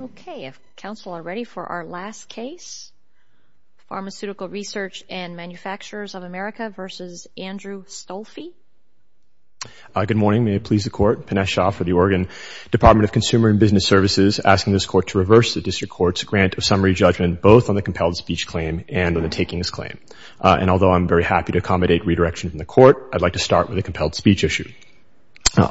Okay, if counsel are ready for our last case. Pharmaceutical Research and Manufacturers of America v. Andrew Stolfi. Good morning. May it please the Court. Pinesh Shah for the Oregon Department of Consumer and Business Services asking this Court to reverse the District Court's grant of summary judgment both on the compelled speech claim and on the takings claim. And although I'm very happy to accommodate redirection from the Court, I'd like to start with the compelled speech issue.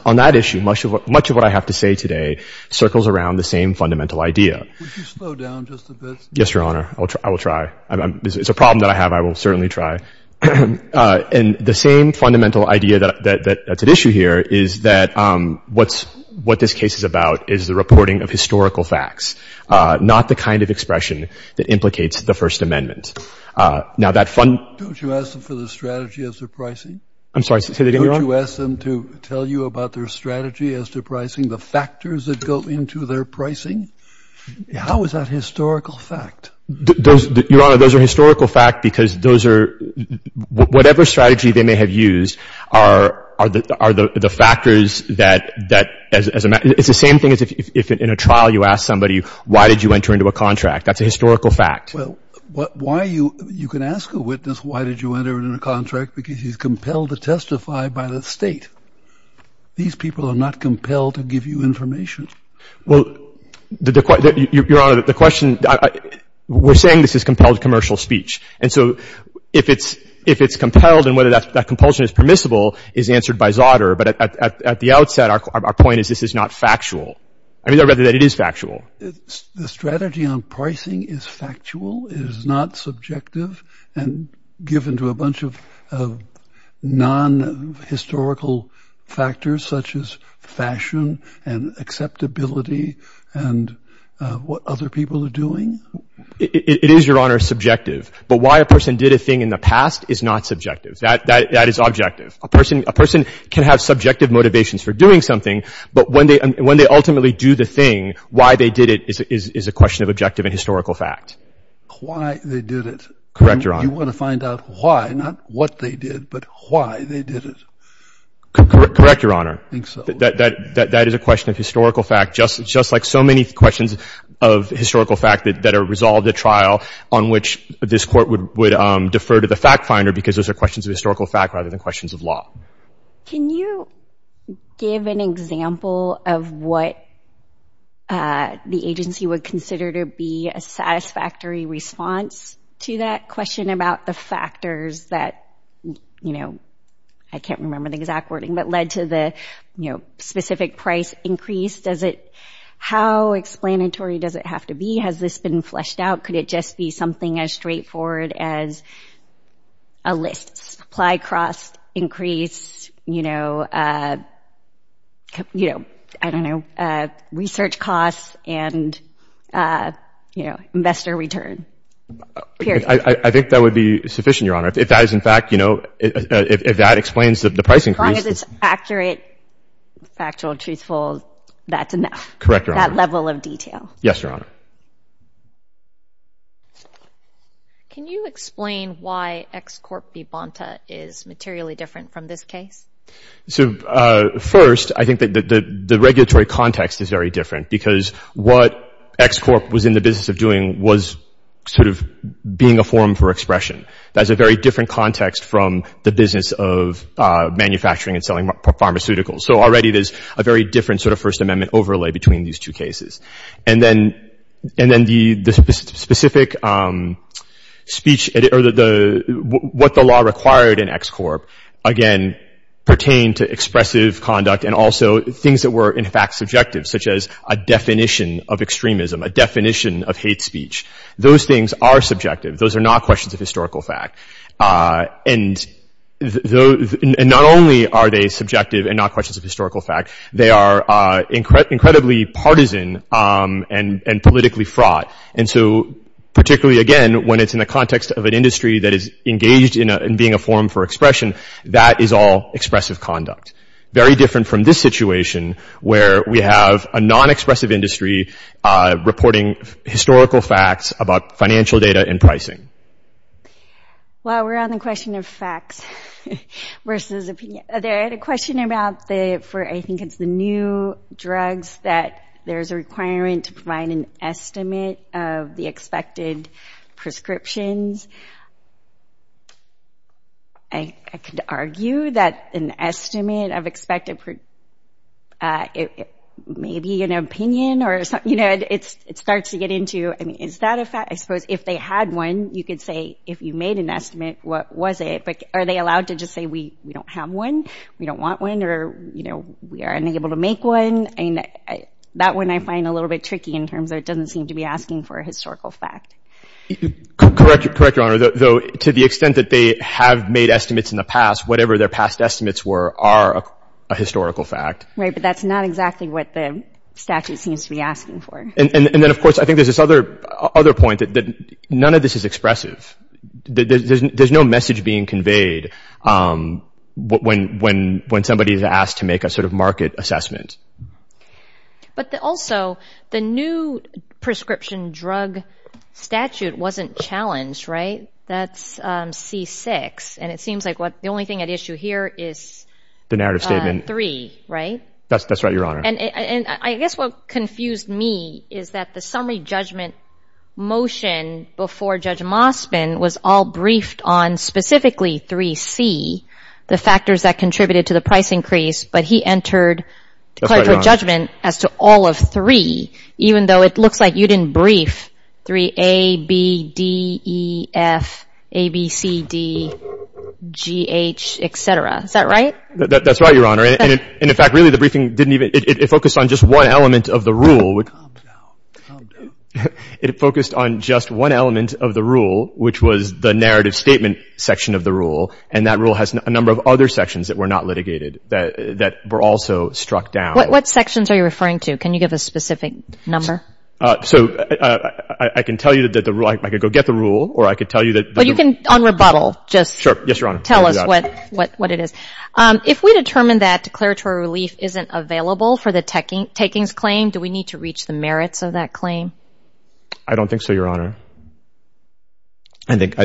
On that issue, much of what I have to say today circles around the same fundamental idea. Would you slow down just a bit? Yes, Your Honor. I will try. It's a problem that I have. I will certainly try. And the same fundamental idea that's at issue here is that what this case is about is the reporting of historical facts, not the kind of expression that implicates the First Amendment. Don't you ask them for the strategy as they're pricing? I'm sorry. Say that again, Your Honor. Don't you ask them to tell you about their strategy as they're pricing, the factors that go into their pricing? How is that historical fact? Your Honor, those are historical facts because those are — whatever strategy they may have used are the factors that — it's the same thing as if in a trial you ask somebody, why did you enter into a contract? That's a historical fact. Well, why you — you can ask a witness, why did you enter into a contract? Because he's compelled to testify by the State. These people are not compelled to give you information. Well, Your Honor, the question — we're saying this is compelled commercial speech. And so if it's compelled and whether that compulsion is permissible is answered by Zauter. But at the outset, our point is this is not factual. I mean, I'd rather that it is factual. The strategy on pricing is factual? It is not subjective and given to a bunch of non-historical factors such as fashion and acceptability and what other people are doing? It is, Your Honor, subjective. But why a person did a thing in the past is not subjective. That is objective. A person can have subjective motivations for doing something, but when they ultimately do the thing, why they did it is a question of objective and historical fact. Why they did it? Correct, Your Honor. You want to find out why, not what they did, but why they did it. Correct, Your Honor. I think so. That is a question of historical fact, just like so many questions of historical fact that are resolved at trial on which this Court would defer to the fact finder because those are questions of historical fact rather than questions of law. Can you give an example of what the agency would consider to be a satisfactory response to that question about the factors that, you know, I can't remember the exact wording, but led to the specific price increase? How explanatory does it have to be? Has this been fleshed out? Could it just be something as straightforward as a list? Supply costs increase, you know, I don't know, research costs and, you know, investor return. Period. I think that would be sufficient, Your Honor. If that is in fact, you know, if that explains the price increase. As long as it's accurate, factual, truthful, that's enough. Correct, Your Honor. That level of detail. Yes, Your Honor. Can you explain why X-Corp v. Bonta is materially different from this case? So, first, I think that the regulatory context is very different because what X-Corp was in the business of doing was sort of being a forum for expression. That's a very different context from the business of manufacturing and selling pharmaceuticals. So, already there's a very different sort of First Amendment overlay between these two cases. And then the specific speech or what the law required in X-Corp, again, pertained to expressive conduct and also things that were, in fact, subjective, such as a definition of extremism, a definition of hate speech. Those things are subjective. Those are not questions of historical fact. And not only are they subjective and not questions of historical fact, they are incredibly partisan and politically fraught. And so, particularly, again, when it's in the context of an industry that is engaged in being a forum for expression, that is all expressive conduct. Very different from this situation, where we have a non-expressive industry reporting historical facts about financial data and pricing. Well, we're on the question of facts versus opinion. I had a question about the, for, I think it's the new drugs, that there's a requirement to provide an estimate of the expected prescriptions. I could argue that an estimate of expected, maybe an opinion or something, you know, it starts to get into, I mean, is that a fact? I suppose if they had one, you could say, if you made an estimate, what was it? But are they allowed to just say, we don't have one, we don't want one, or, you know, we are unable to make one? I mean, that one I find a little bit tricky in terms of it doesn't seem to be asking for a historical fact. Correct, Your Honor. Though, to the extent that they have made estimates in the past, whatever their past estimates were are a historical fact. Right, but that's not exactly what the statute seems to be asking for. And then, of course, I think there's this other point that none of this is expressive. There's no message being conveyed when somebody is asked to make a sort of market assessment. But also, the new prescription drug statute wasn't challenged, right? That's C-6, and it seems like the only thing at issue here is 3, right? That's right, Your Honor. And I guess what confused me is that the summary judgment motion before Judge Mospin was all briefed on specifically 3C, the factors that contributed to the price increase, but he entered declaratory judgment as to all of 3, even though it looks like you didn't brief 3A, B, D, E, F, A, B, C, D, G, H, et cetera. Is that right? That's right, Your Honor. And in fact, really, the briefing didn't even — it focused on just one element of the rule. Calm down. Calm down. It focused on just one element of the rule, which was the narrative statement section of the rule, and that rule has a number of other sections that were not litigated that were also struck down. What sections are you referring to? Can you give a specific number? So I can tell you that the rule — I could go get the rule, or I could tell you that — Well, you can, on rebuttal, just — Sure. Yes, Your Honor. — tell us what it is. If we determine that declaratory relief isn't available for the takings claim, do we need to reach the merits of that claim? I don't think so, Your Honor. I think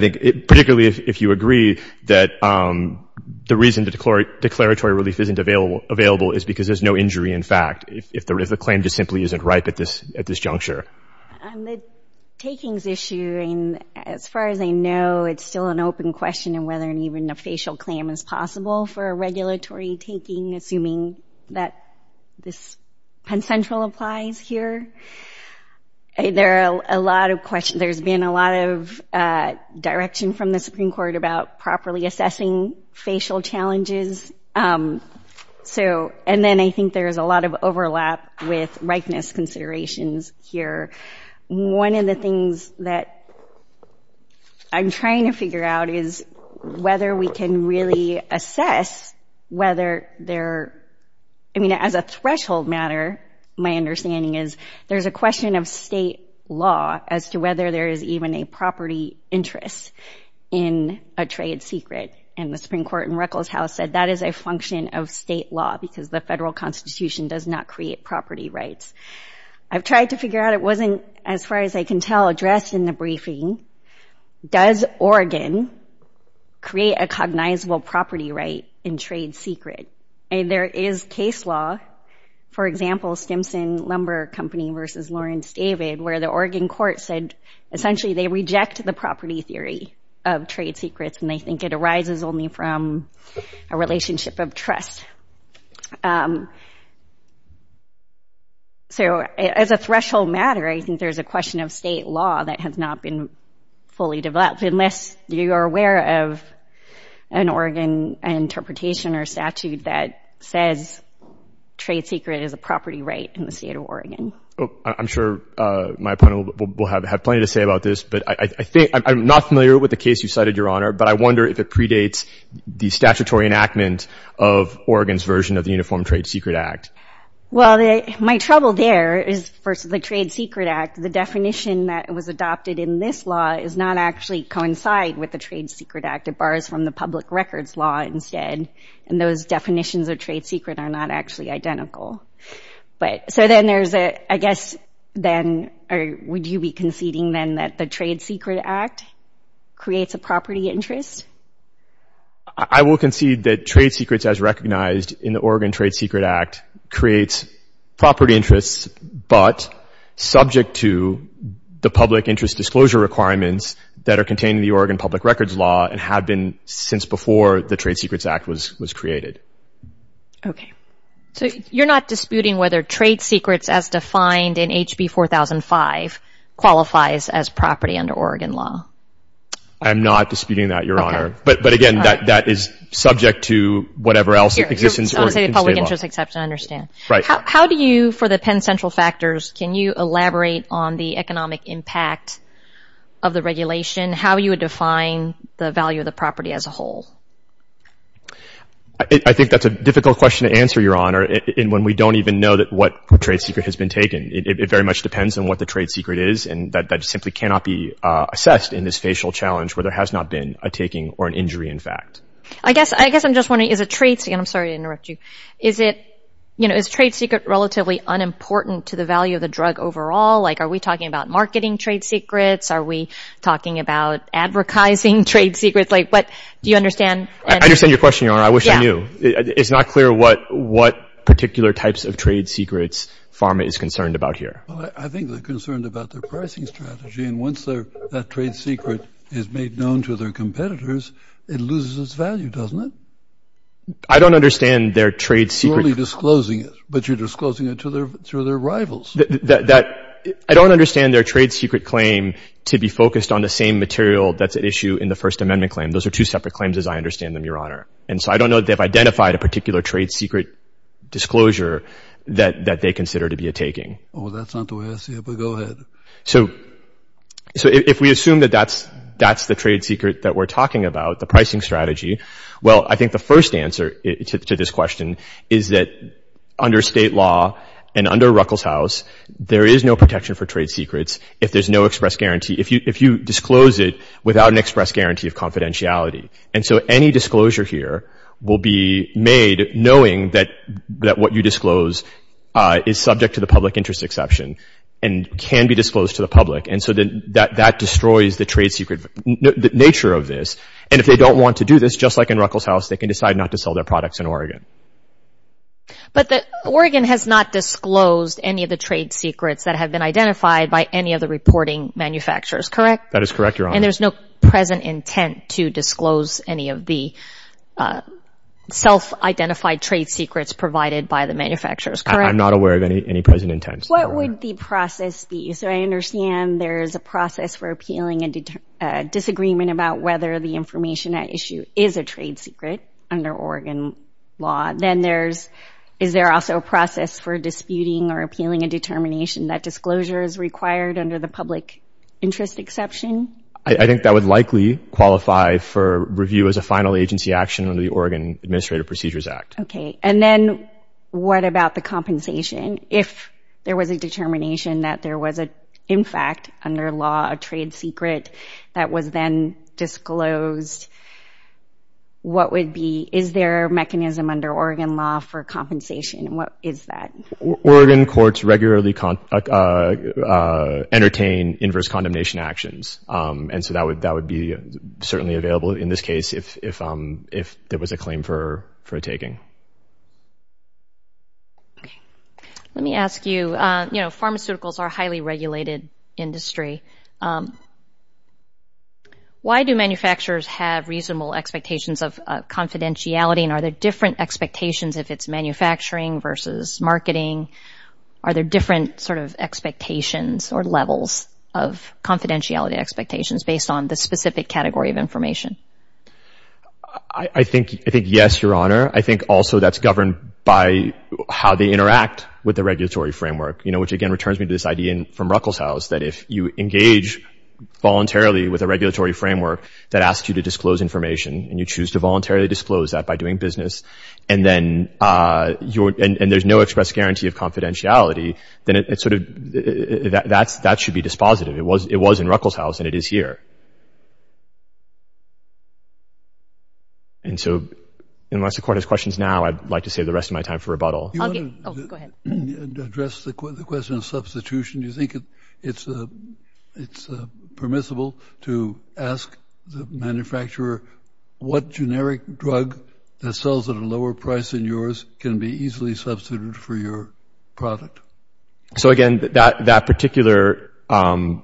particularly if you agree that the reason the declaratory relief isn't available is because there's no injury in fact, if the claim just simply isn't ripe at this juncture. On the takings issue, as far as I know, it's still an open question on whether even a facial claim is possible for a regulatory taking, assuming that this consensual applies here. There are a lot of questions. There's been a lot of direction from the Supreme Court about properly assessing facial challenges. And then I think there's a lot of overlap with ripeness considerations here. One of the things that I'm trying to figure out is whether we can really assess whether there — I mean, as a threshold matter, my understanding is there's a question of state law as to whether there is even a property interest in a trade secret. And the Supreme Court in Ruckelshaus said that is a function of state law because the federal Constitution does not create property rights. I've tried to figure out. It wasn't, as far as I can tell, addressed in the briefing. Does Oregon create a cognizable property right in trade secret? And there is case law, for example, Stimson Lumber Company versus Lawrence David, where the Oregon court said essentially they reject the property theory of trade secrets and they think it arises only from a relationship of trust. So as a threshold matter, I think there's a question of state law that has not been fully developed unless you are aware of an Oregon interpretation or statute that says trade secret is a property right in the state of Oregon. I'm sure my opponent will have plenty to say about this, but I think — I'm not familiar with the case you cited, Your Honor, but I wonder if it predates the statutory enactment of Oregon's version of the Uniform Trade Secret Act. Well, my trouble there is, first, the Trade Secret Act, the definition that was adopted in this law does not actually coincide with the Trade Secret Act. It borrows from the public records law instead, and those definitions of trade secret are not actually identical. So then there's a — I guess then, would you be conceding then that the Trade Secret Act creates a property interest? I will concede that trade secrets, as recognized in the Oregon Trade Secret Act, creates property interests but subject to the public interest disclosure requirements that are contained in the Oregon public records law and have been since before the Trade Secrets Act was created. Okay. So you're not disputing whether trade secrets, as defined in HB 4005, qualifies as property under Oregon law? I'm not disputing that, Your Honor. Okay. But again, that is subject to whatever else exists in state law. I want to say public interest exception, I understand. Right. How do you, for the Penn Central factors, can you elaborate on the economic impact of the regulation? How would you define the value of the property as a whole? I think that's a difficult question to answer, Your Honor, when we don't even know what trade secret has been taken. It very much depends on what the trade secret is, and that simply cannot be assessed in this facial challenge where there has not been a taking or an injury, in fact. I guess I'm just wondering, is a trade secret, and I'm sorry to interrupt you, is it, you know, is trade secret relatively unimportant to the value of the drug overall? Like, are we talking about marketing trade secrets? Are we talking about advertising trade secrets? Like, what, do you understand? I understand your question, Your Honor. I wish I knew. It's not clear what particular types of trade secrets PhRMA is concerned about here. Well, I think they're concerned about their pricing strategy, and once that trade secret is made known to their competitors, it loses its value, doesn't it? I don't understand their trade secret. You're only disclosing it, but you're disclosing it to their rivals. I don't understand their trade secret claim to be focused on the same material that's at issue in the First Amendment claim. Those are two separate claims, as I understand them, Your Honor. And so I don't know that they've identified a particular trade secret disclosure that they consider to be a taking. Well, that's not the way I see it, but go ahead. So if we assume that that's the trade secret that we're talking about, the pricing strategy, well, I think the first answer to this question is that under state law and under Ruckelshaus, there is no protection for trade secrets if there's no express guarantee, if you disclose it without an express guarantee of confidentiality. And so any disclosure here will be made knowing that what you disclose is subject to the public interest exception and can be disclosed to the public, and so that destroys the trade secret nature of this. And if they don't want to do this, just like in Ruckelshaus, they can decide not to sell their products in Oregon. But Oregon has not disclosed any of the trade secrets that have been identified by any of the reporting manufacturers, correct? That is correct, Your Honor. And there's no present intent to disclose any of the self-identified trade secrets provided by the manufacturers, correct? I'm not aware of any present intents. What would the process be? So I understand there is a process for appealing a disagreement about whether the information at issue is a trade secret under Oregon law. Then is there also a process for disputing or appealing a determination that disclosure is required under the public interest exception? I think that would likely qualify for review as a final agency action under the Oregon Administrative Procedures Act. And then what about the compensation? If there was a determination that there was, in fact, under law, a trade secret that was then disclosed, what would be – is there a mechanism under Oregon law for compensation? What is that? Oregon courts regularly entertain inverse condemnation actions, and so that would be certainly available in this case if there was a claim for a taking. Let me ask you, you know, pharmaceuticals are a highly regulated industry. Why do manufacturers have reasonable expectations of confidentiality, and are there different expectations if it's manufacturing versus marketing? Are there different sort of expectations or levels of confidentiality expectations based on the specific category of information? I think yes, Your Honor. I think also that's governed by how they interact with the regulatory framework, you know, which again returns me to this idea from Ruckelshaus that if you engage voluntarily with a regulatory framework that asks you to disclose information and you choose to voluntarily disclose that by doing business, and then you're – and there's no express guarantee of confidentiality, then it's sort of – that should be dispositive. It was in Ruckelshaus, and it is here. And so unless the Court has questions now, I'd like to save the rest of my time for rebuttal. Okay. Oh, go ahead. To address the question of substitution, do you think it's permissible to ask the manufacturer, what generic drug that sells at a lower price than yours can be easily substituted for your product? So again, that particular part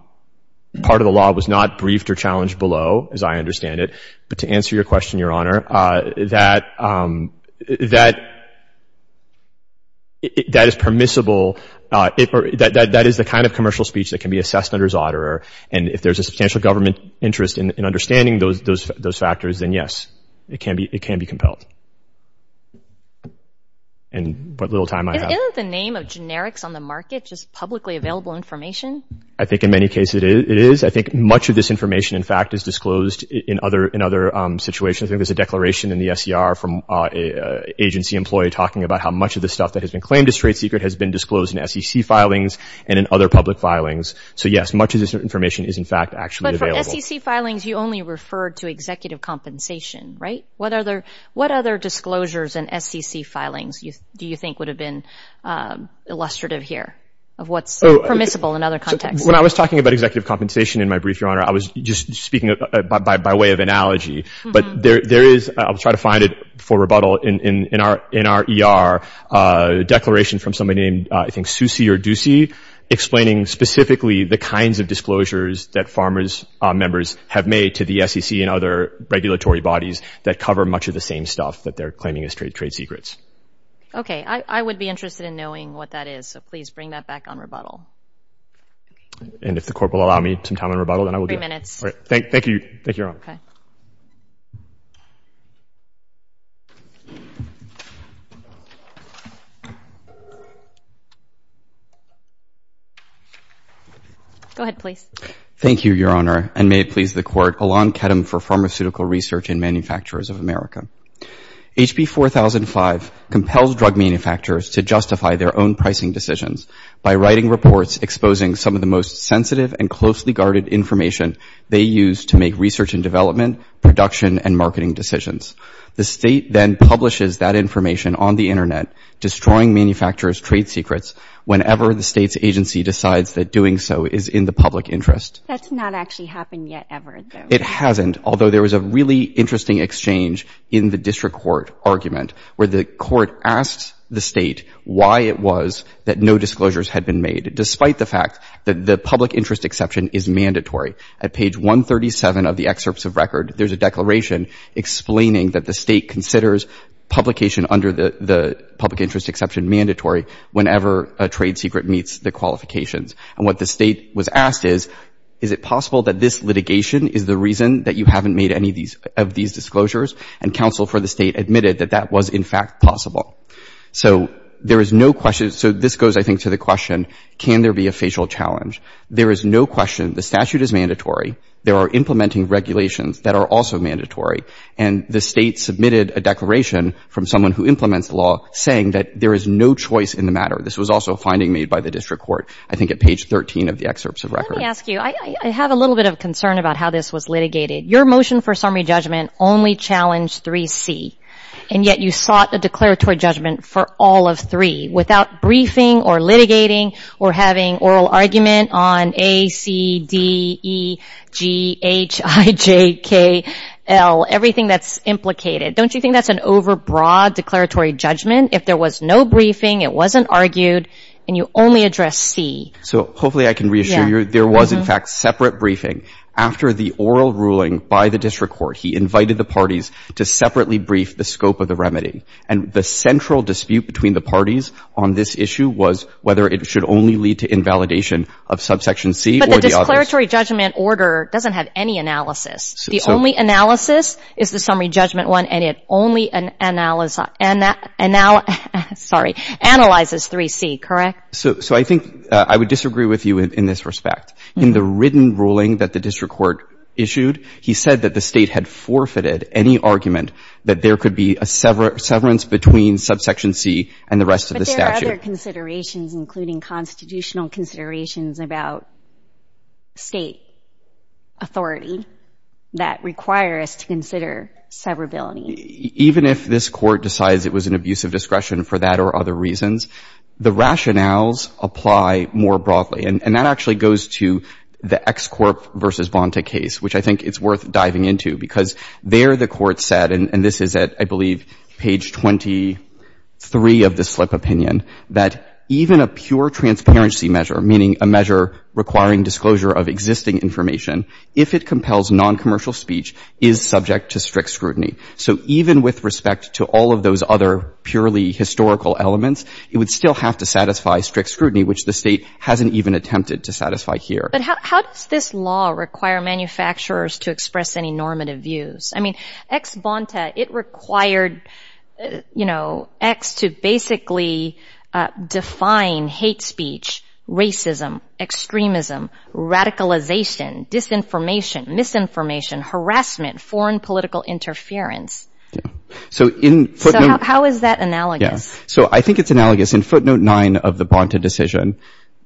of the law was not briefed or challenged below, as I understand it. But to answer your question, Your Honor, that is permissible. That is the kind of commercial speech that can be assessed under Zodderer, and if there's a substantial government interest in understanding those factors, then yes, it can be compelled. And what little time I have. Isn't the name of generics on the market just publicly available information? I think in many cases it is. I think much of this information, in fact, is disclosed in other situations. I think there's a declaration in the SCR from an agency employee talking about how much of the stuff that has been claimed as trade secret has been disclosed in SEC filings and in other public filings. So yes, much of this information is, in fact, actually available. But for SEC filings, you only referred to executive compensation, right? What other disclosures in SEC filings do you think would have been illustrative here of what's permissible in other contexts? When I was talking about executive compensation in my brief, Your Honor, I was just speaking by way of analogy. But there is, I'll try to find it for rebuttal, in our ER, a declaration from somebody named, I think, Soucy or Ducey, explaining specifically the kinds of disclosures that farmers' members have made to the SEC and other regulatory bodies that cover much of the same stuff that they're claiming as trade secrets. Okay, I would be interested in knowing what that is. So please bring that back on rebuttal. And if the Court will allow me some time on rebuttal, then I will do it. Thank you, Your Honor. Go ahead, please. Thank you, Your Honor, and may it please the Court, Alon Ketem for Pharmaceutical Research and Manufacturers of America. HB 4005 compels drug manufacturers to justify their own pricing decisions by writing reports exposing some of the most sensitive and closely guarded information they use to make research and development, production, and marketing decisions. The State then publishes that information on the Internet, destroying manufacturers' trade secrets, whenever the State's agency decides that doing so is in the public interest. That's not actually happened yet, ever, though. It hasn't, although there was a really interesting exchange in the district court argument, where the court asked the State why it was that no disclosures had been made, despite the fact that the public interest exception is mandatory. At page 137 of the excerpts of record, there's a declaration explaining that the State considers publication under the public interest exception mandatory whenever a trade secret meets the qualifications. And what the State was asked is, is it possible that this litigation is the reason that you haven't made any of these disclosures? And counsel for the State admitted that that was, in fact, possible. So there is no question. So this goes, I think, to the question, can there be a facial challenge? There is no question. The statute is mandatory. There are implementing regulations that are also mandatory. And the State submitted a declaration from someone who implements the law saying that there is no choice in the matter. This was also a finding made by the district court, I think at page 13 of the excerpts of record. Let me ask you. I have a little bit of concern about how this was litigated. Your motion for summary judgment only challenged 3C, and yet you sought a declaratory judgment for all of 3, without briefing or litigating or having oral argument on A, C, D, E, G, H, I, J, K, L, everything that's implicated. Don't you think that's an overbroad declaratory judgment? If there was no briefing, it wasn't argued, and you only addressed C. So hopefully I can reassure you there was, in fact, separate briefing. After the oral ruling by the district court, he invited the parties to separately brief the scope of the remedy. And the central dispute between the parties on this issue was whether it should only lead to invalidation of subsection C or the others. But the declaratory judgment order doesn't have any analysis. The only analysis is the summary judgment one, and it only analyzes 3C, correct? So I think I would disagree with you in this respect. In the written ruling that the district court issued, he said that the State had forfeited any argument that there could be a severance between subsection C and the rest of the statute. But there are other considerations, including constitutional considerations about State authority that require us to consider severability. Even if this Court decides it was an abuse of discretion for that or other reasons, the rationales apply more broadly. And that actually goes to the Ex Corp v. Bonta case, which I think it's worth diving into, because there the Court said, and this is at, I believe, page 23 of the slip opinion, that even a pure transparency measure, meaning a measure requiring disclosure of existing information, if it compels noncommercial speech, is subject to strict scrutiny. So even with respect to all of those other purely historical elements, it would still have to satisfy strict scrutiny, which the State hasn't even attempted to satisfy here. But how does this law require manufacturers to express any normative views? I mean, Ex Bonta, it required, you know, Ex to basically define hate speech, racism, extremism, radicalization, disinformation, misinformation, harassment, foreign political interference. So in footnote... So how is that analogous? So I think it's analogous. In footnote 9 of the Bonta decision,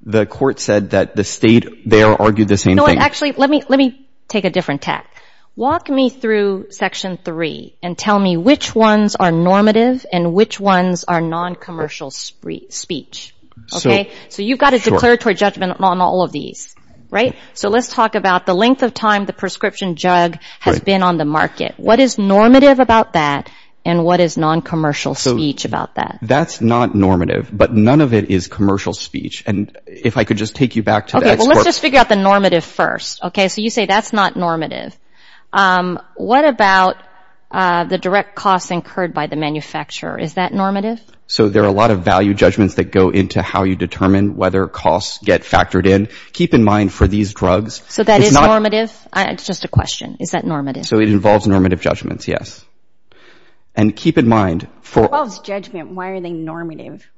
the Court said that the State there argued the same thing. Actually, let me take a different tack. Walk me through section 3 and tell me which ones are normative and which ones are noncommercial speech. Okay? So you've got a declaratory judgment on all of these, right? So let's talk about the length of time the prescription jug has been on the market. What is normative about that and what is noncommercial speech about that? That's not normative. But none of it is commercial speech. And if I could just take you back to... Okay, well, let's just figure out the normative first. Okay? So you say that's not normative. What about the direct costs incurred by the manufacturer? Is that normative? So there are a lot of value judgments that go into how you determine whether costs get factored in. Keep in mind for these drugs... So that is normative? It's just a question. Is that normative? So it involves normative judgments, yes. And keep in mind for... It involves judgment. Why are they normative?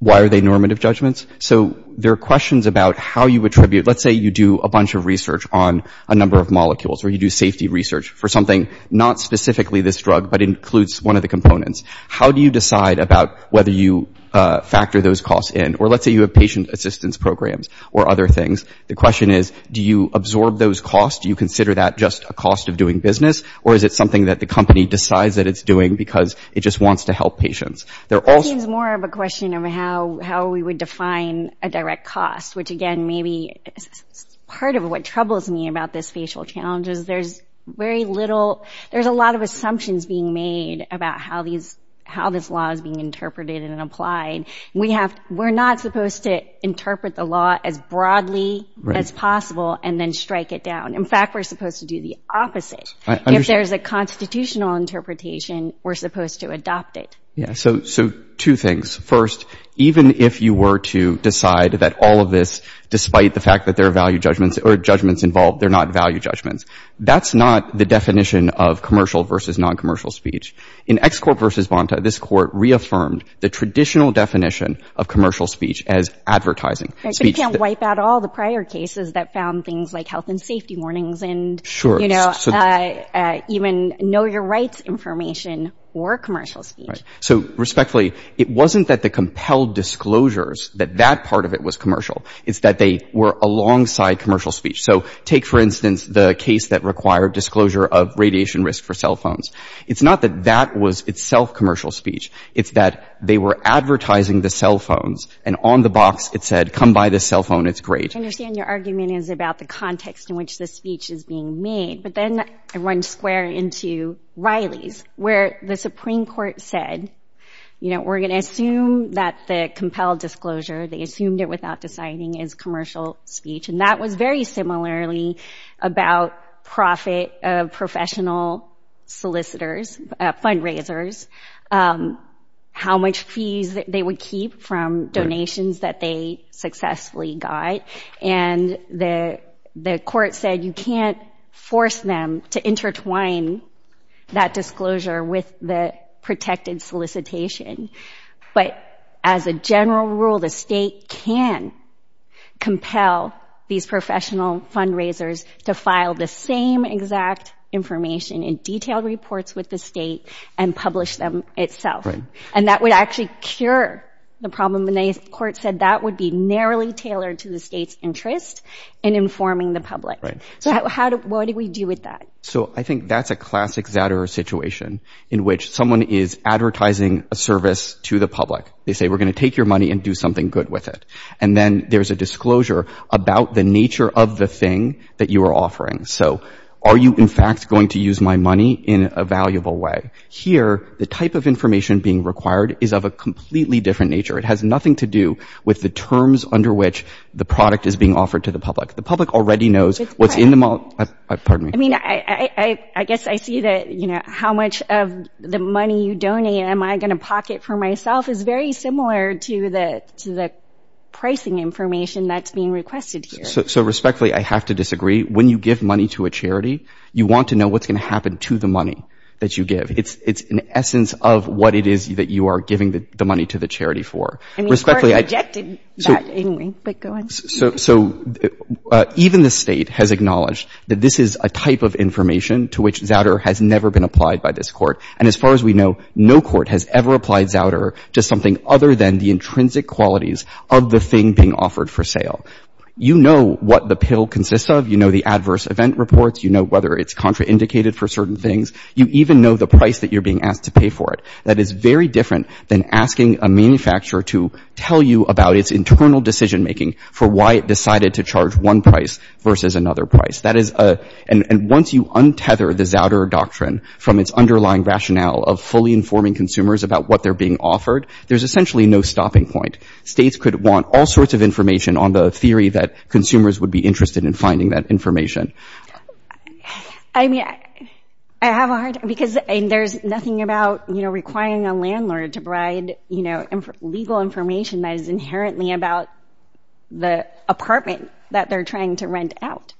Why are they normative judgments? So there are questions about how you attribute... Let's say you do a bunch of research on a number of molecules or you do safety research for something, not specifically this drug, but includes one of the components. How do you decide about whether you factor those costs in? Or let's say you have patient assistance programs or other things. The question is, do you absorb those costs? Do you consider that just a cost of doing business? Or is it something that the company decides that it's doing because it just wants to help patients? That seems more of a question of how we would define a direct cost, which, again, maybe part of what troubles me about this facial challenge is there's very little... There's a lot of assumptions being made about how this law is being interpreted and applied. We're not supposed to interpret the law as broadly as possible and then strike it down. In fact, we're supposed to do the opposite. If there's a constitutional interpretation, we're supposed to adopt it. Yeah, so two things. First, even if you were to decide that all of this, despite the fact that there are value judgments or judgments involved, they're not value judgments, that's not the definition of commercial versus non-commercial speech. In ExCorp v. Bonta, this court reaffirmed the traditional definition of commercial speech as advertising speech. But you can't wipe out all the prior cases that found things like health and safety warnings and, you know, even know-your-rights information or commercial speech. So, respectfully, it wasn't that the compelled disclosures, that that part of it was commercial. It's that they were alongside commercial speech. So take, for instance, the case that required disclosure of radiation risk for cell phones. It's not that that was itself commercial speech. It's that they were advertising the cell phones, and on the box it said, come buy this cell phone, it's great. I understand your argument is about the context in which the speech is being made. But then I run square into Riley's, where the Supreme Court said, you know, we're going to assume that the compelled disclosure, they assumed it without deciding, is commercial speech. And that was very similarly about profit of professional solicitors, fundraisers, how much fees they would keep from donations that they successfully got. And the court said you can't force them to intertwine that disclosure with the protected solicitation. But as a general rule, the state can compel these professional fundraisers to file the same exact information in detailed reports with the state and publish them itself. And that would actually cure the problem. And the court said that would be narrowly tailored to the state's interest in informing the public. So what do we do with that? So I think that's a classic Zatterer situation in which someone is advertising a service to the public. They say, we're going to take your money and do something good with it. And then there's a disclosure about the nature of the thing that you are offering. So are you, in fact, going to use my money in a valuable way? Here, the type of information being required is of a completely different nature. It has nothing to do with the terms under which the product is being offered to the public. The public already knows what's in the model. Pardon me. I mean, I guess I see that how much of the money you donate am I going to pocket for myself is very similar to the pricing information that's being requested here. So respectfully, I have to disagree. When you give money to a charity, you want to know what's going to happen to the money that you give. It's an essence of what it is that you are giving the money to the charity for. I mean, the court rejected that anyway, but go ahead. So even the state has acknowledged that this is a type of information to which Zatterer has never been applied by this court. And as far as we know, no court has ever applied Zatterer to something other than the intrinsic qualities of the thing being offered for sale. You know what the pill consists of. You know the adverse event reports. You know whether it's contraindicated for certain things. You even know the price that you're being asked to pay for it. That is very different than asking a manufacturer to tell you about its internal decision-making for why it decided to charge one price versus another price. And once you untether the Zatterer doctrine from its underlying rationale of fully informing consumers about what they're being offered, there's essentially no stopping point. States could want all sorts of information on the theory that consumers would be interested in finding that information. I mean, I have a hard time because there's nothing about requiring a landlord to provide legal information that is inherently about the apartment that they're trying to rent out.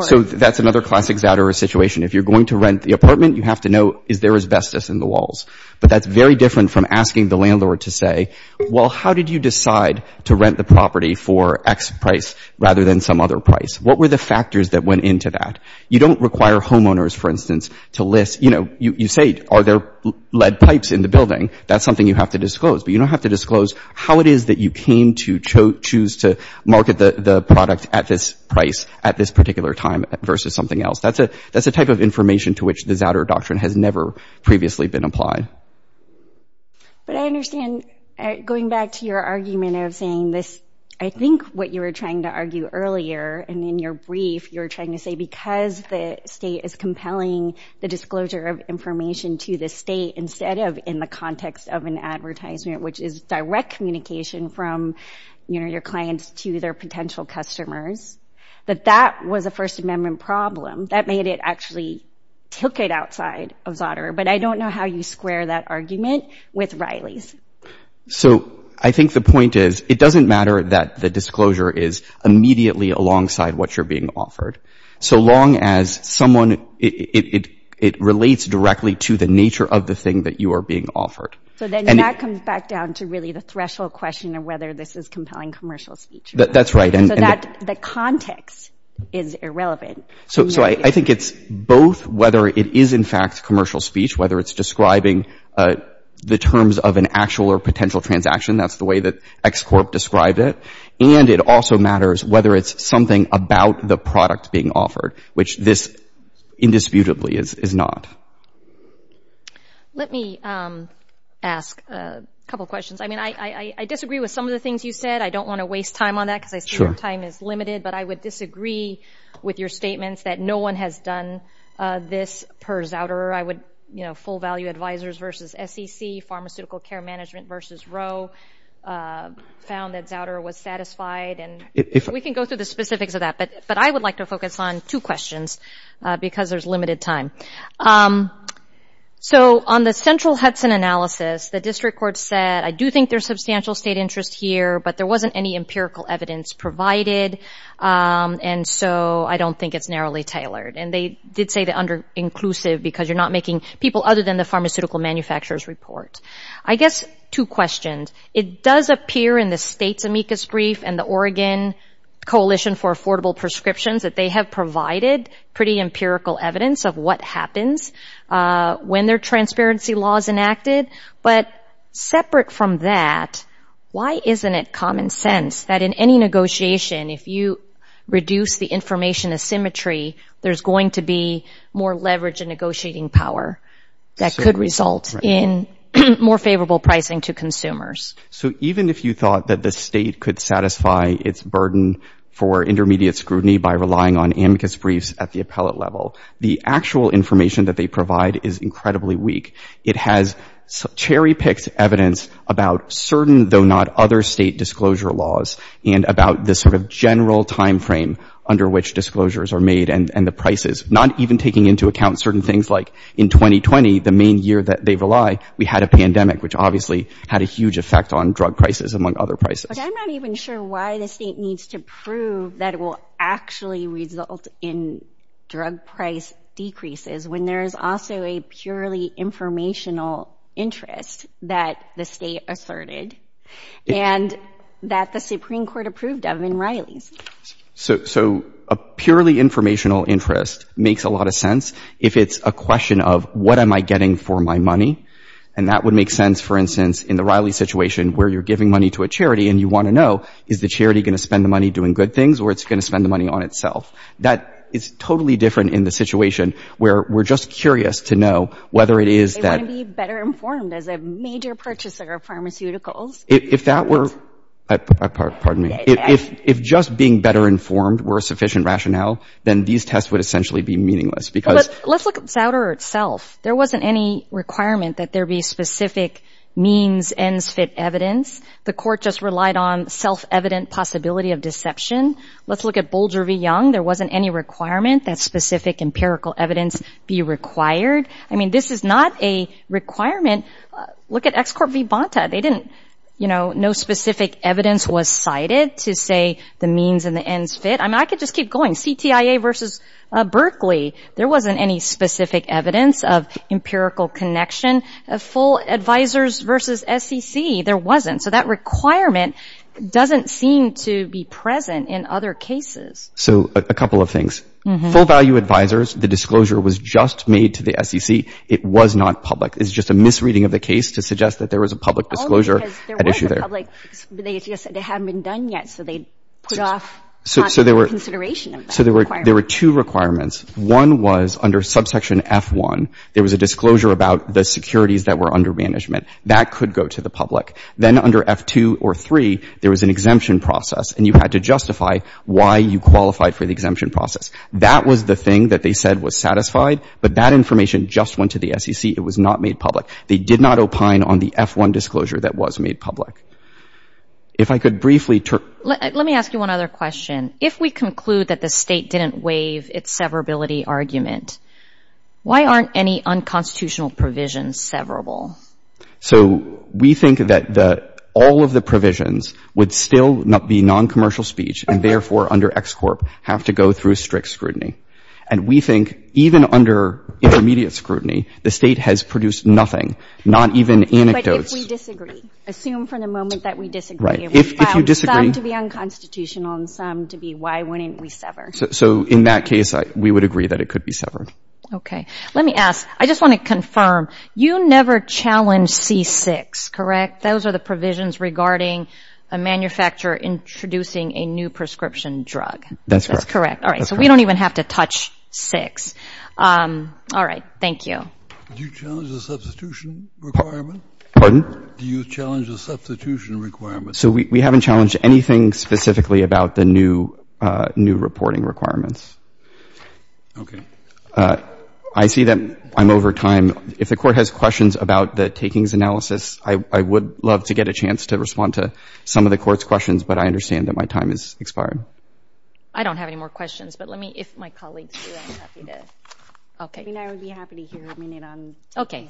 So that's another classic Zatterer situation. If you're going to rent the apartment, you have to know, is there asbestos in the walls? But that's very different from asking the landlord to say, well, how did you decide to rent the property for X price rather than some other price? What were the factors that went into that? You don't require homeowners, for instance, to list, you know, you say, are there lead pipes in the building? That's something you have to disclose. But you don't have to disclose how it is that you came to choose to market the product at this price at this particular time versus something else. That's a type of information to which the Zatterer doctrine has never previously been applied. But I understand, going back to your argument of saying this, I think what you were trying to argue earlier and in your brief, you were trying to say because the state is compelling the disclosure of information to the state instead of in the context of an advertisement, which is direct communication from, you know, your clients to their potential customers, that that was a First Amendment problem that made it actually took it outside of Zatterer. But I don't know how you square that argument with Riley's. So I think the point is it doesn't matter that the disclosure is immediately alongside what you're being offered so long as someone, it relates directly to the nature of the thing that you are being offered. So then that comes back down to really the threshold question of whether this is compelling commercial speech. That's right. So that context is irrelevant. So I think it's both whether it is, in fact, commercial speech, whether it's describing the terms of an actual or potential transaction. That's the way that X Corp described it. And it also matters whether it's something about the product being offered, which this indisputably is not. Let me ask a couple of questions. I mean, I disagree with some of the things you said. I don't want to waste time on that because I see our time is limited. But I would disagree with your statements that no one has done this per Zatterer. I would, you know, full value advisors versus SEC, pharmaceutical care management versus Roe found that Zatterer was satisfied. And we can go through the specifics of that. But I would like to focus on two questions because there's limited time. So on the central Hudson analysis, the district court said, I do think there's substantial state interest here, but there wasn't any empirical evidence provided. And so I don't think it's narrowly tailored. And they did say that under inclusive because you're not making people other than the pharmaceutical manufacturer's report. I guess two questions. It does appear in the state's amicus brief and the Oregon Coalition for Affordable Prescriptions that they have provided pretty empirical evidence of what happens when their transparency law is enacted. But separate from that, why isn't it common sense that in any negotiation, if you reduce the information asymmetry, there's going to be more leverage and negotiating power that could result in more favorable pricing to consumers? So even if you thought that the state could satisfy its burden for intermediate scrutiny by relying on amicus briefs at the appellate level, the actual information that they provide is incredibly weak. It has cherry-picked evidence about certain, though not other, state disclosure laws and about the sort of general time frame under which disclosures are made and the prices, not even taking into account certain things like in 2020, the main year that they rely, we had a pandemic, which obviously had a huge effect on drug prices, among other prices. I'm not even sure why the state needs to prove that it will actually result in drug price decreases when there is also a purely informational interest that the state asserted and that the Supreme Court approved of in Riley's. So a purely informational interest makes a lot of sense if it's a question of, what am I getting for my money? And that would make sense, for instance, in the Riley situation, where you're giving money to a charity and you want to know, is the charity going to spend the money doing good things or is it going to spend the money on itself? That is totally different in the situation where we're just curious to know whether it is that— They want to be better informed as a major purchaser of pharmaceuticals. If that were—pardon me. If just being better informed were a sufficient rationale, then these tests would essentially be meaningless because— But let's look at Zouder itself. There wasn't any requirement that there be specific means, ends, fit evidence. The court just relied on self-evident possibility of deception. Let's look at Bolger v. Young. There wasn't any requirement that specific empirical evidence be required. I mean, this is not a requirement. Look at ExCorp v. Bonta. They didn't—you know, no specific evidence was cited to say the means and the ends fit. I mean, I could just keep going. Look at CTIA v. Berkeley. There wasn't any specific evidence of empirical connection. Full Advisors v. SEC, there wasn't. So that requirement doesn't seem to be present in other cases. So a couple of things. Full Value Advisors, the disclosure was just made to the SEC. It was not public. It's just a misreading of the case to suggest that there was a public disclosure at issue there. Oh, because there was a public—they just said it hadn't been done yet, so they put off not taking consideration of that requirement. So there were two requirements. One was under subsection F-1, there was a disclosure about the securities that were under management. That could go to the public. Then under F-2 or 3, there was an exemption process, and you had to justify why you qualified for the exemption process. That was the thing that they said was satisfied, but that information just went to the SEC. It was not made public. They did not opine on the F-1 disclosure that was made public. If I could briefly— Let me ask you one other question. If we conclude that the State didn't waive its severability argument, why aren't any unconstitutional provisions severable? So we think that all of the provisions would still be noncommercial speech and, therefore, under EXCORP, have to go through strict scrutiny. And we think even under intermediate scrutiny, the State has produced nothing, not even anecdotes. If we disagree, assume for the moment that we disagree. If we found some to be unconstitutional and some to be, why wouldn't we sever? So in that case, we would agree that it could be severed. Okay. Let me ask—I just want to confirm, you never challenged C-6, correct? Those are the provisions regarding a manufacturer introducing a new prescription drug. That's correct. That's correct. All right. So we don't even have to touch 6. All right. Thank you. Do you challenge the substitution requirement? Pardon? Do you challenge the substitution requirement? So we haven't challenged anything specifically about the new reporting requirements. Okay. I see that I'm over time. If the Court has questions about the takings analysis, I would love to get a chance to respond to some of the Court's questions, but I understand that my time has expired. I don't have any more questions, but let me, if my colleagues do, I'm happy to. Okay. I mean, I would be happy to hear a minute on— Okay.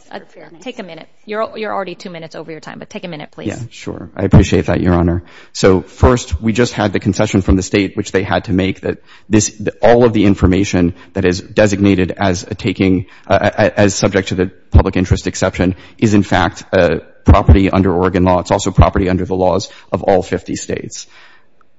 Take a minute. You're already two minutes over your time, but take a minute, please. Yeah. Sure. I appreciate that, Your Honor. So first, we just had the concession from the State, which they had to make that all of the information that is designated as subject to the public interest exception is, in fact, property under Oregon law. It's also property under the laws of all 50 States.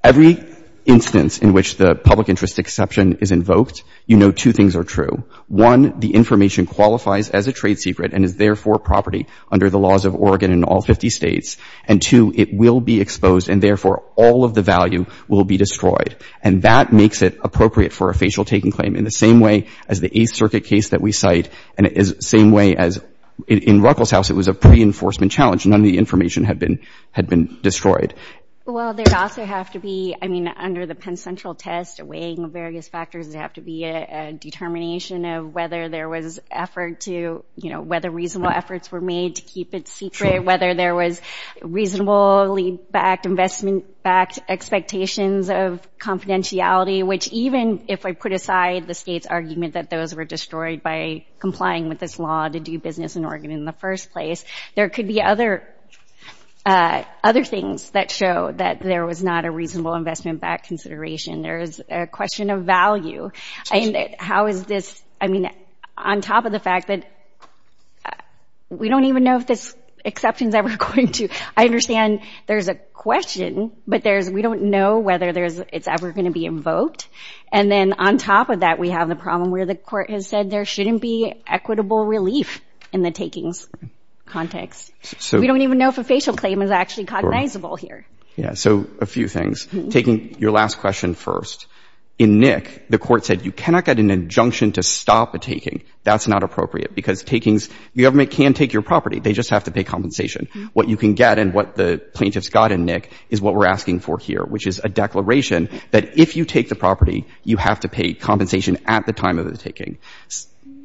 Every instance in which the public interest exception is invoked, you know two things are true. One, the information qualifies as a trade secret and is, therefore, property under the laws of Oregon and all 50 States. And, two, it will be exposed and, therefore, all of the value will be destroyed. And that makes it appropriate for a facial taking claim in the same way as the Eighth Circuit case that we cite and in the same way as in Ruckelshaus, it was a pre-enforcement challenge. None of the information had been destroyed. Well, there'd also have to be, I mean, under the Penn Central test, weighing various factors, there'd have to be a determination of whether there was effort to, you know, whether reasonable efforts were made to keep it secret, whether there was reasonably backed, investment-backed expectations of confidentiality, which even if I put aside the State's argument that those were destroyed by complying with this law to do business in Oregon in the first place, there could be other things that show that there was not a reasonable investment-backed consideration. There is a question of value. And how is this, I mean, on top of the fact that we don't even know if this exception is ever going to, I understand there's a question, but there's, we don't know whether there's, it's ever going to be invoked. And then on top of that, we have the problem where the court has said there shouldn't be equitable relief in the takings context. We don't even know if a facial claim is actually cognizable here. Yeah. So a few things. Taking your last question first. In Nick, the court said you cannot get an injunction to stop a taking. That's not appropriate because takings, the government can take your property. They just have to pay compensation. What you can get and what the plaintiffs got in Nick is what we're asking for here, which is a declaration that if you take the property, you have to pay compensation at the time of the taking.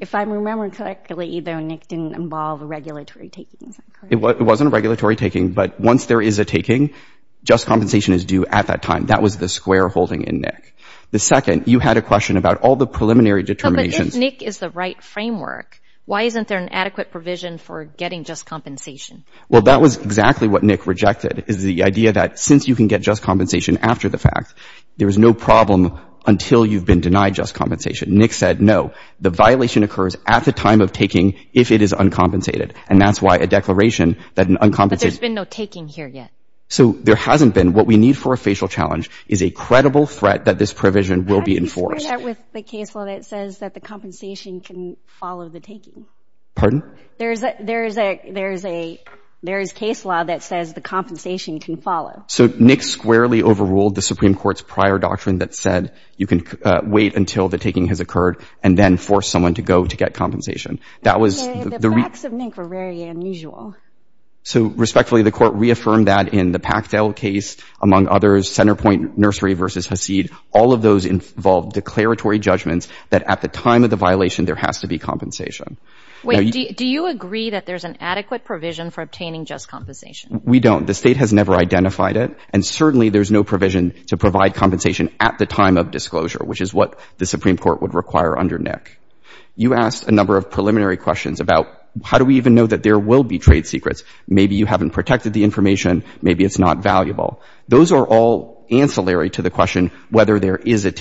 If I remember correctly, though, Nick didn't involve a regulatory taking. Is that correct? It wasn't a regulatory taking, but once there is a taking, just compensation is due at that time. That was the square holding in Nick. The second, you had a question about all the preliminary determinations. But if Nick is the right framework, why isn't there an adequate provision for getting just compensation? Well, that was exactly what Nick rejected, is the idea that since you can get just compensation after the fact, there is no problem until you've been denied just compensation. Nick said no. The violation occurs at the time of taking if it is uncompensated. And that's why a declaration that an uncompensated — But there's been no taking here yet. So there hasn't been. What we need for a facial challenge is a credible threat that this provision will be enforced. How do you square that with the case law that says that the compensation can follow the taking? Pardon? There is a — there is a — there is case law that says the compensation can follow. So Nick squarely overruled the Supreme Court's prior doctrine that said you can wait until the taking has occurred and then force someone to go to get compensation. That was the — The acts of Nick were very unusual. So, respectfully, the Court reaffirmed that in the Pachtel case, among others, Centerpoint Nursery v. Hasid, all of those involved declaratory judgments that at the time of the violation there has to be compensation. Wait. Do you agree that there's an adequate provision for obtaining just compensation? We don't. The State has never identified it. And certainly there's no provision to provide compensation at the time of disclosure, which is what the Supreme Court would require under Nick. You asked a number of preliminary questions about how do we even know that there will be trade secrets. Maybe you haven't protected the information. Maybe it's not valuable. Those are all ancillary to the question whether there is a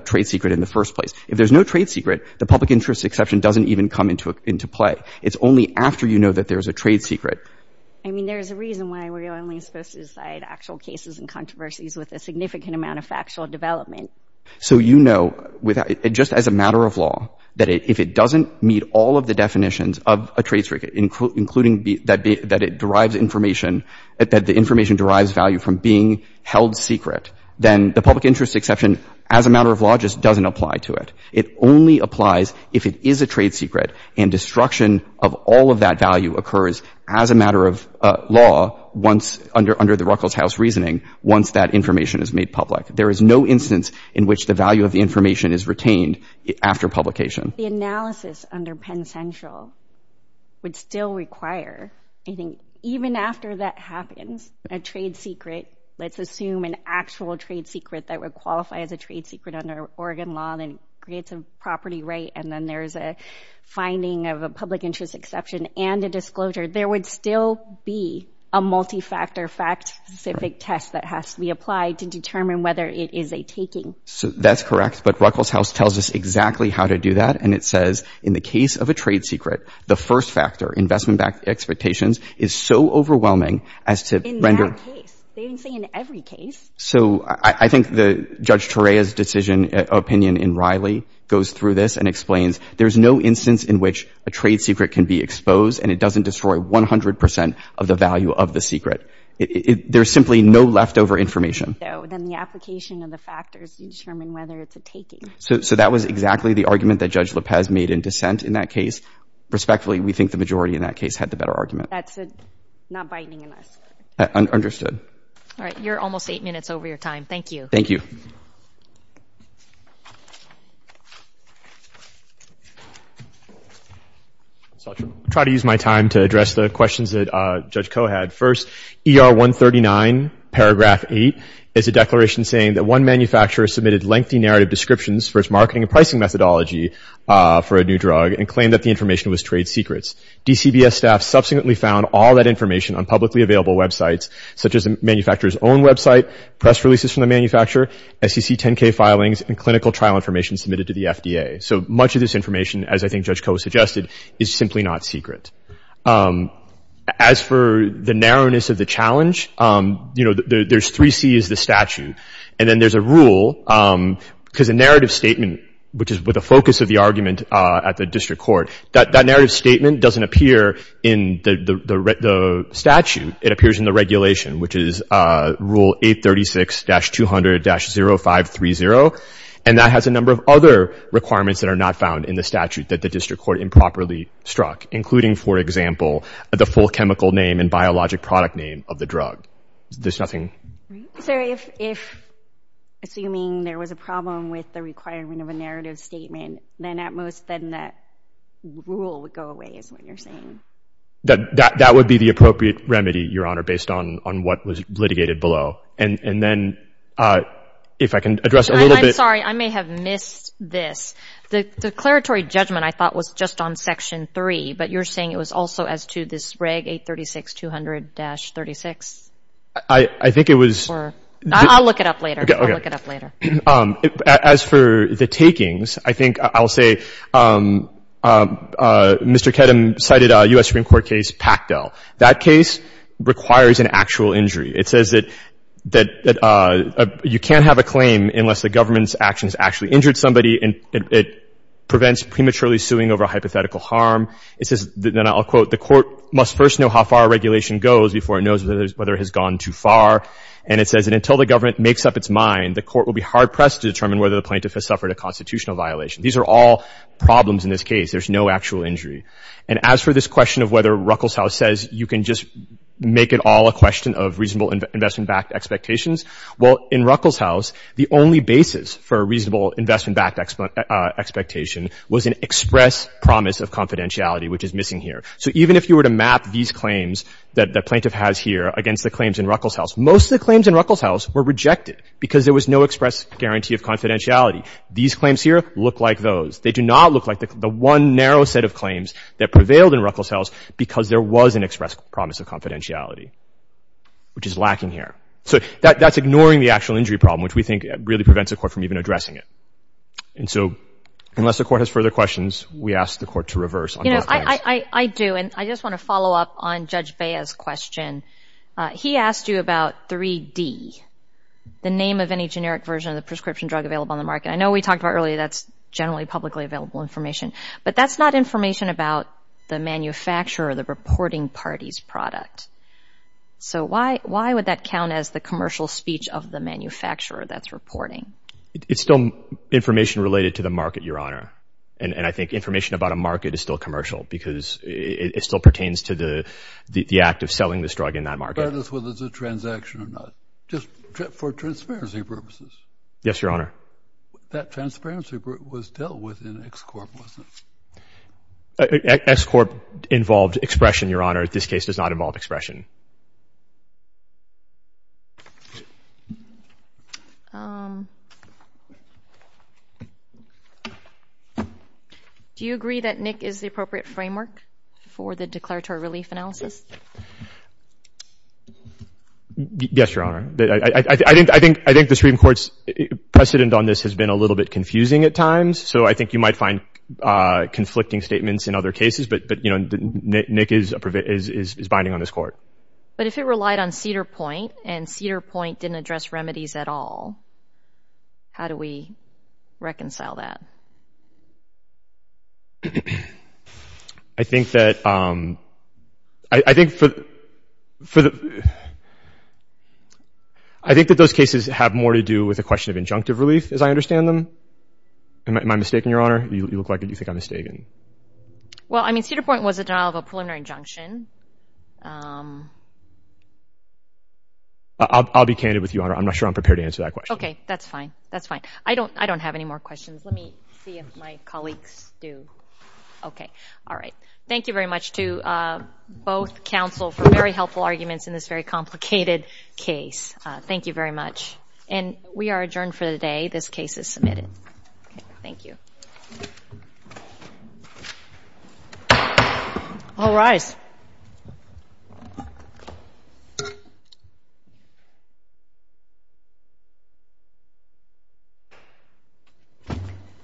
trade secret in the first place. If there's no trade secret, the public interest exception doesn't even come into play. It's only after you know that there's a trade secret. I mean, there's a reason why we're only supposed to decide actual cases and controversies with a significant amount of factual development. So you know, just as a matter of law, that if it doesn't meet all of the definitions of a trade secret, including that it derives information, that the information derives value from being held secret, then the public interest exception as a matter of law just doesn't apply to it. It only applies if it is a trade secret and destruction of all of that value occurs as a matter of law once, under the Ruckelshaus reasoning, once that information is made public. There is no instance in which the value of the information is retained after publication. The analysis under Penn Central would still require, I think, even after that happens, a trade secret, let's assume an actual trade secret that would qualify as a trade secret under Oregon law, then creates a property right, and then there's a finding of a public interest exception and a disclosure. There would still be a multi-factor fact-specific test that has to be applied to whether it is a taking. So that's correct, but Ruckelshaus tells us exactly how to do that, and it says, in the case of a trade secret, the first factor, investment-backed expectations, is so overwhelming as to render— In that case. They didn't say in every case. So I think Judge Torreya's decision, opinion in Riley, goes through this and explains there's no instance in which a trade secret can be exposed and it doesn't destroy 100 percent of the value of the secret. There's simply no leftover information. So then the application of the factors determine whether it's a taking. So that was exactly the argument that Judge Lopez made in dissent in that case. Respectfully, we think the majority in that case had the better argument. That's it. Not biting us. Understood. All right. You're almost eight minutes over your time. Thank you. Thank you. So I'll try to use my time to address the questions that Judge Koh had. First, ER 139, paragraph eight, is a declaration saying that one manufacturer submitted lengthy narrative descriptions for its marketing and pricing methodology for a new drug and claimed that the information was trade secrets. DCBS staff subsequently found all that information on publicly available websites, such as the manufacturer's own website, press releases from the manufacturer, SEC 10-K filings, and clinical trial information submitted to the FDA. So much of this information, as I think Judge Koh suggested, is simply not secret. As for the narrowness of the challenge, you know, there's three Cs, the statute, and then there's a rule, because a narrative statement, which is with a focus of the argument at the district court, that narrative statement doesn't appear in the statute. It appears in the regulation, which is Rule 836-200-0530, and that has a number of other requirements that are not found in the statute that the district court improperly struck, including, for example, the full chemical name and biologic product name of the drug. There's nothing. So if, assuming there was a problem with the requirement of a narrative statement, then at most, then that rule would go away, is what you're saying? That would be the appropriate remedy, Your Honor, based on what was litigated below. And then, if I can address a little bit— I'm sorry. I may have missed this. The declaratory judgment, I thought, was just on Section 3, but you're saying it was also as to this Reg 836-200-36? I think it was— I'll look it up later. Okay. I'll look it up later. As for the takings, I think I'll say Mr. Kedem cited a U.S. Supreme Court case, Pactel. That case requires an actual injury. It says that you can't have a claim unless the government's actions actually injured somebody and it prevents prematurely suing over a hypothetical harm. It says, and I'll quote, the court must first know how far a regulation goes before it knows whether it has gone too far. And it says that until the government makes up its mind, the court will be hard-pressed to determine whether the plaintiff has suffered a constitutional violation. These are all problems in this case. There's no actual injury. And as for this question of whether Ruckelshaus says you can just make it all a question of reasonable investment-backed expectations, well, in Ruckelshaus, the only basis for a reasonable investment-backed expectation was an express promise of confidentiality, which is missing here. So even if you were to map these claims that the plaintiff has here against the claims in Ruckelshaus, most of the claims in Ruckelshaus were rejected because there was no express guarantee of confidentiality. These claims here look like those. They do not look like the one narrow set of claims that prevailed in Ruckelshaus because there was an express promise of confidentiality, which is lacking here. So that's ignoring the actual injury problem, which we think really prevents the court from even addressing it. And so unless the court has further questions, we ask the court to reverse on both claims. You know, I do. And I just want to follow up on Judge Bea's question. He asked you about 3D, the name of any generic version of the prescription drug available on the market. I know we talked about earlier that's generally publicly available information, but that's not information about the manufacturer or the reporting party's product. So why would that count as the commercial speech of the manufacturer that's reporting? It's still information related to the market, Your Honor. And I think information about a market is still commercial because it still pertains to the act of selling this drug in that market. Whether it's a transaction or not, just for transparency purposes. Yes, Your Honor. That transparency was dealt with in X-Corp, wasn't it? X-Corp involved expression, Your Honor. This case does not involve expression. Do you agree that NIC is the appropriate framework for the declaratory relief analysis? Yes, Your Honor. I think the Supreme Court's precedent on this has been a little bit confusing at times, so I think you might find conflicting statements in other cases. But, you know, NIC is binding on this Court. But if it relied on Cedar Point and Cedar Point didn't address remedies at all, how do we reconcile that? I think that those cases have more to do with a question of injunctive relief, as I understand them. Am I mistaken, Your Honor? You look like you think I'm mistaken. Well, I mean, Cedar Point was a denial of a preliminary injunction. I'll be candid with you, Your Honor. I'm not sure I'm prepared to answer that question. Okay. That's fine. That's fine. I don't have any more questions. Let me see if my colleagues do. Okay. All right. Thank you very much to both counsel for very helpful arguments in this very complicated case. Thank you very much. And we are adjourned for the day. This case is submitted. Thank you. All rise.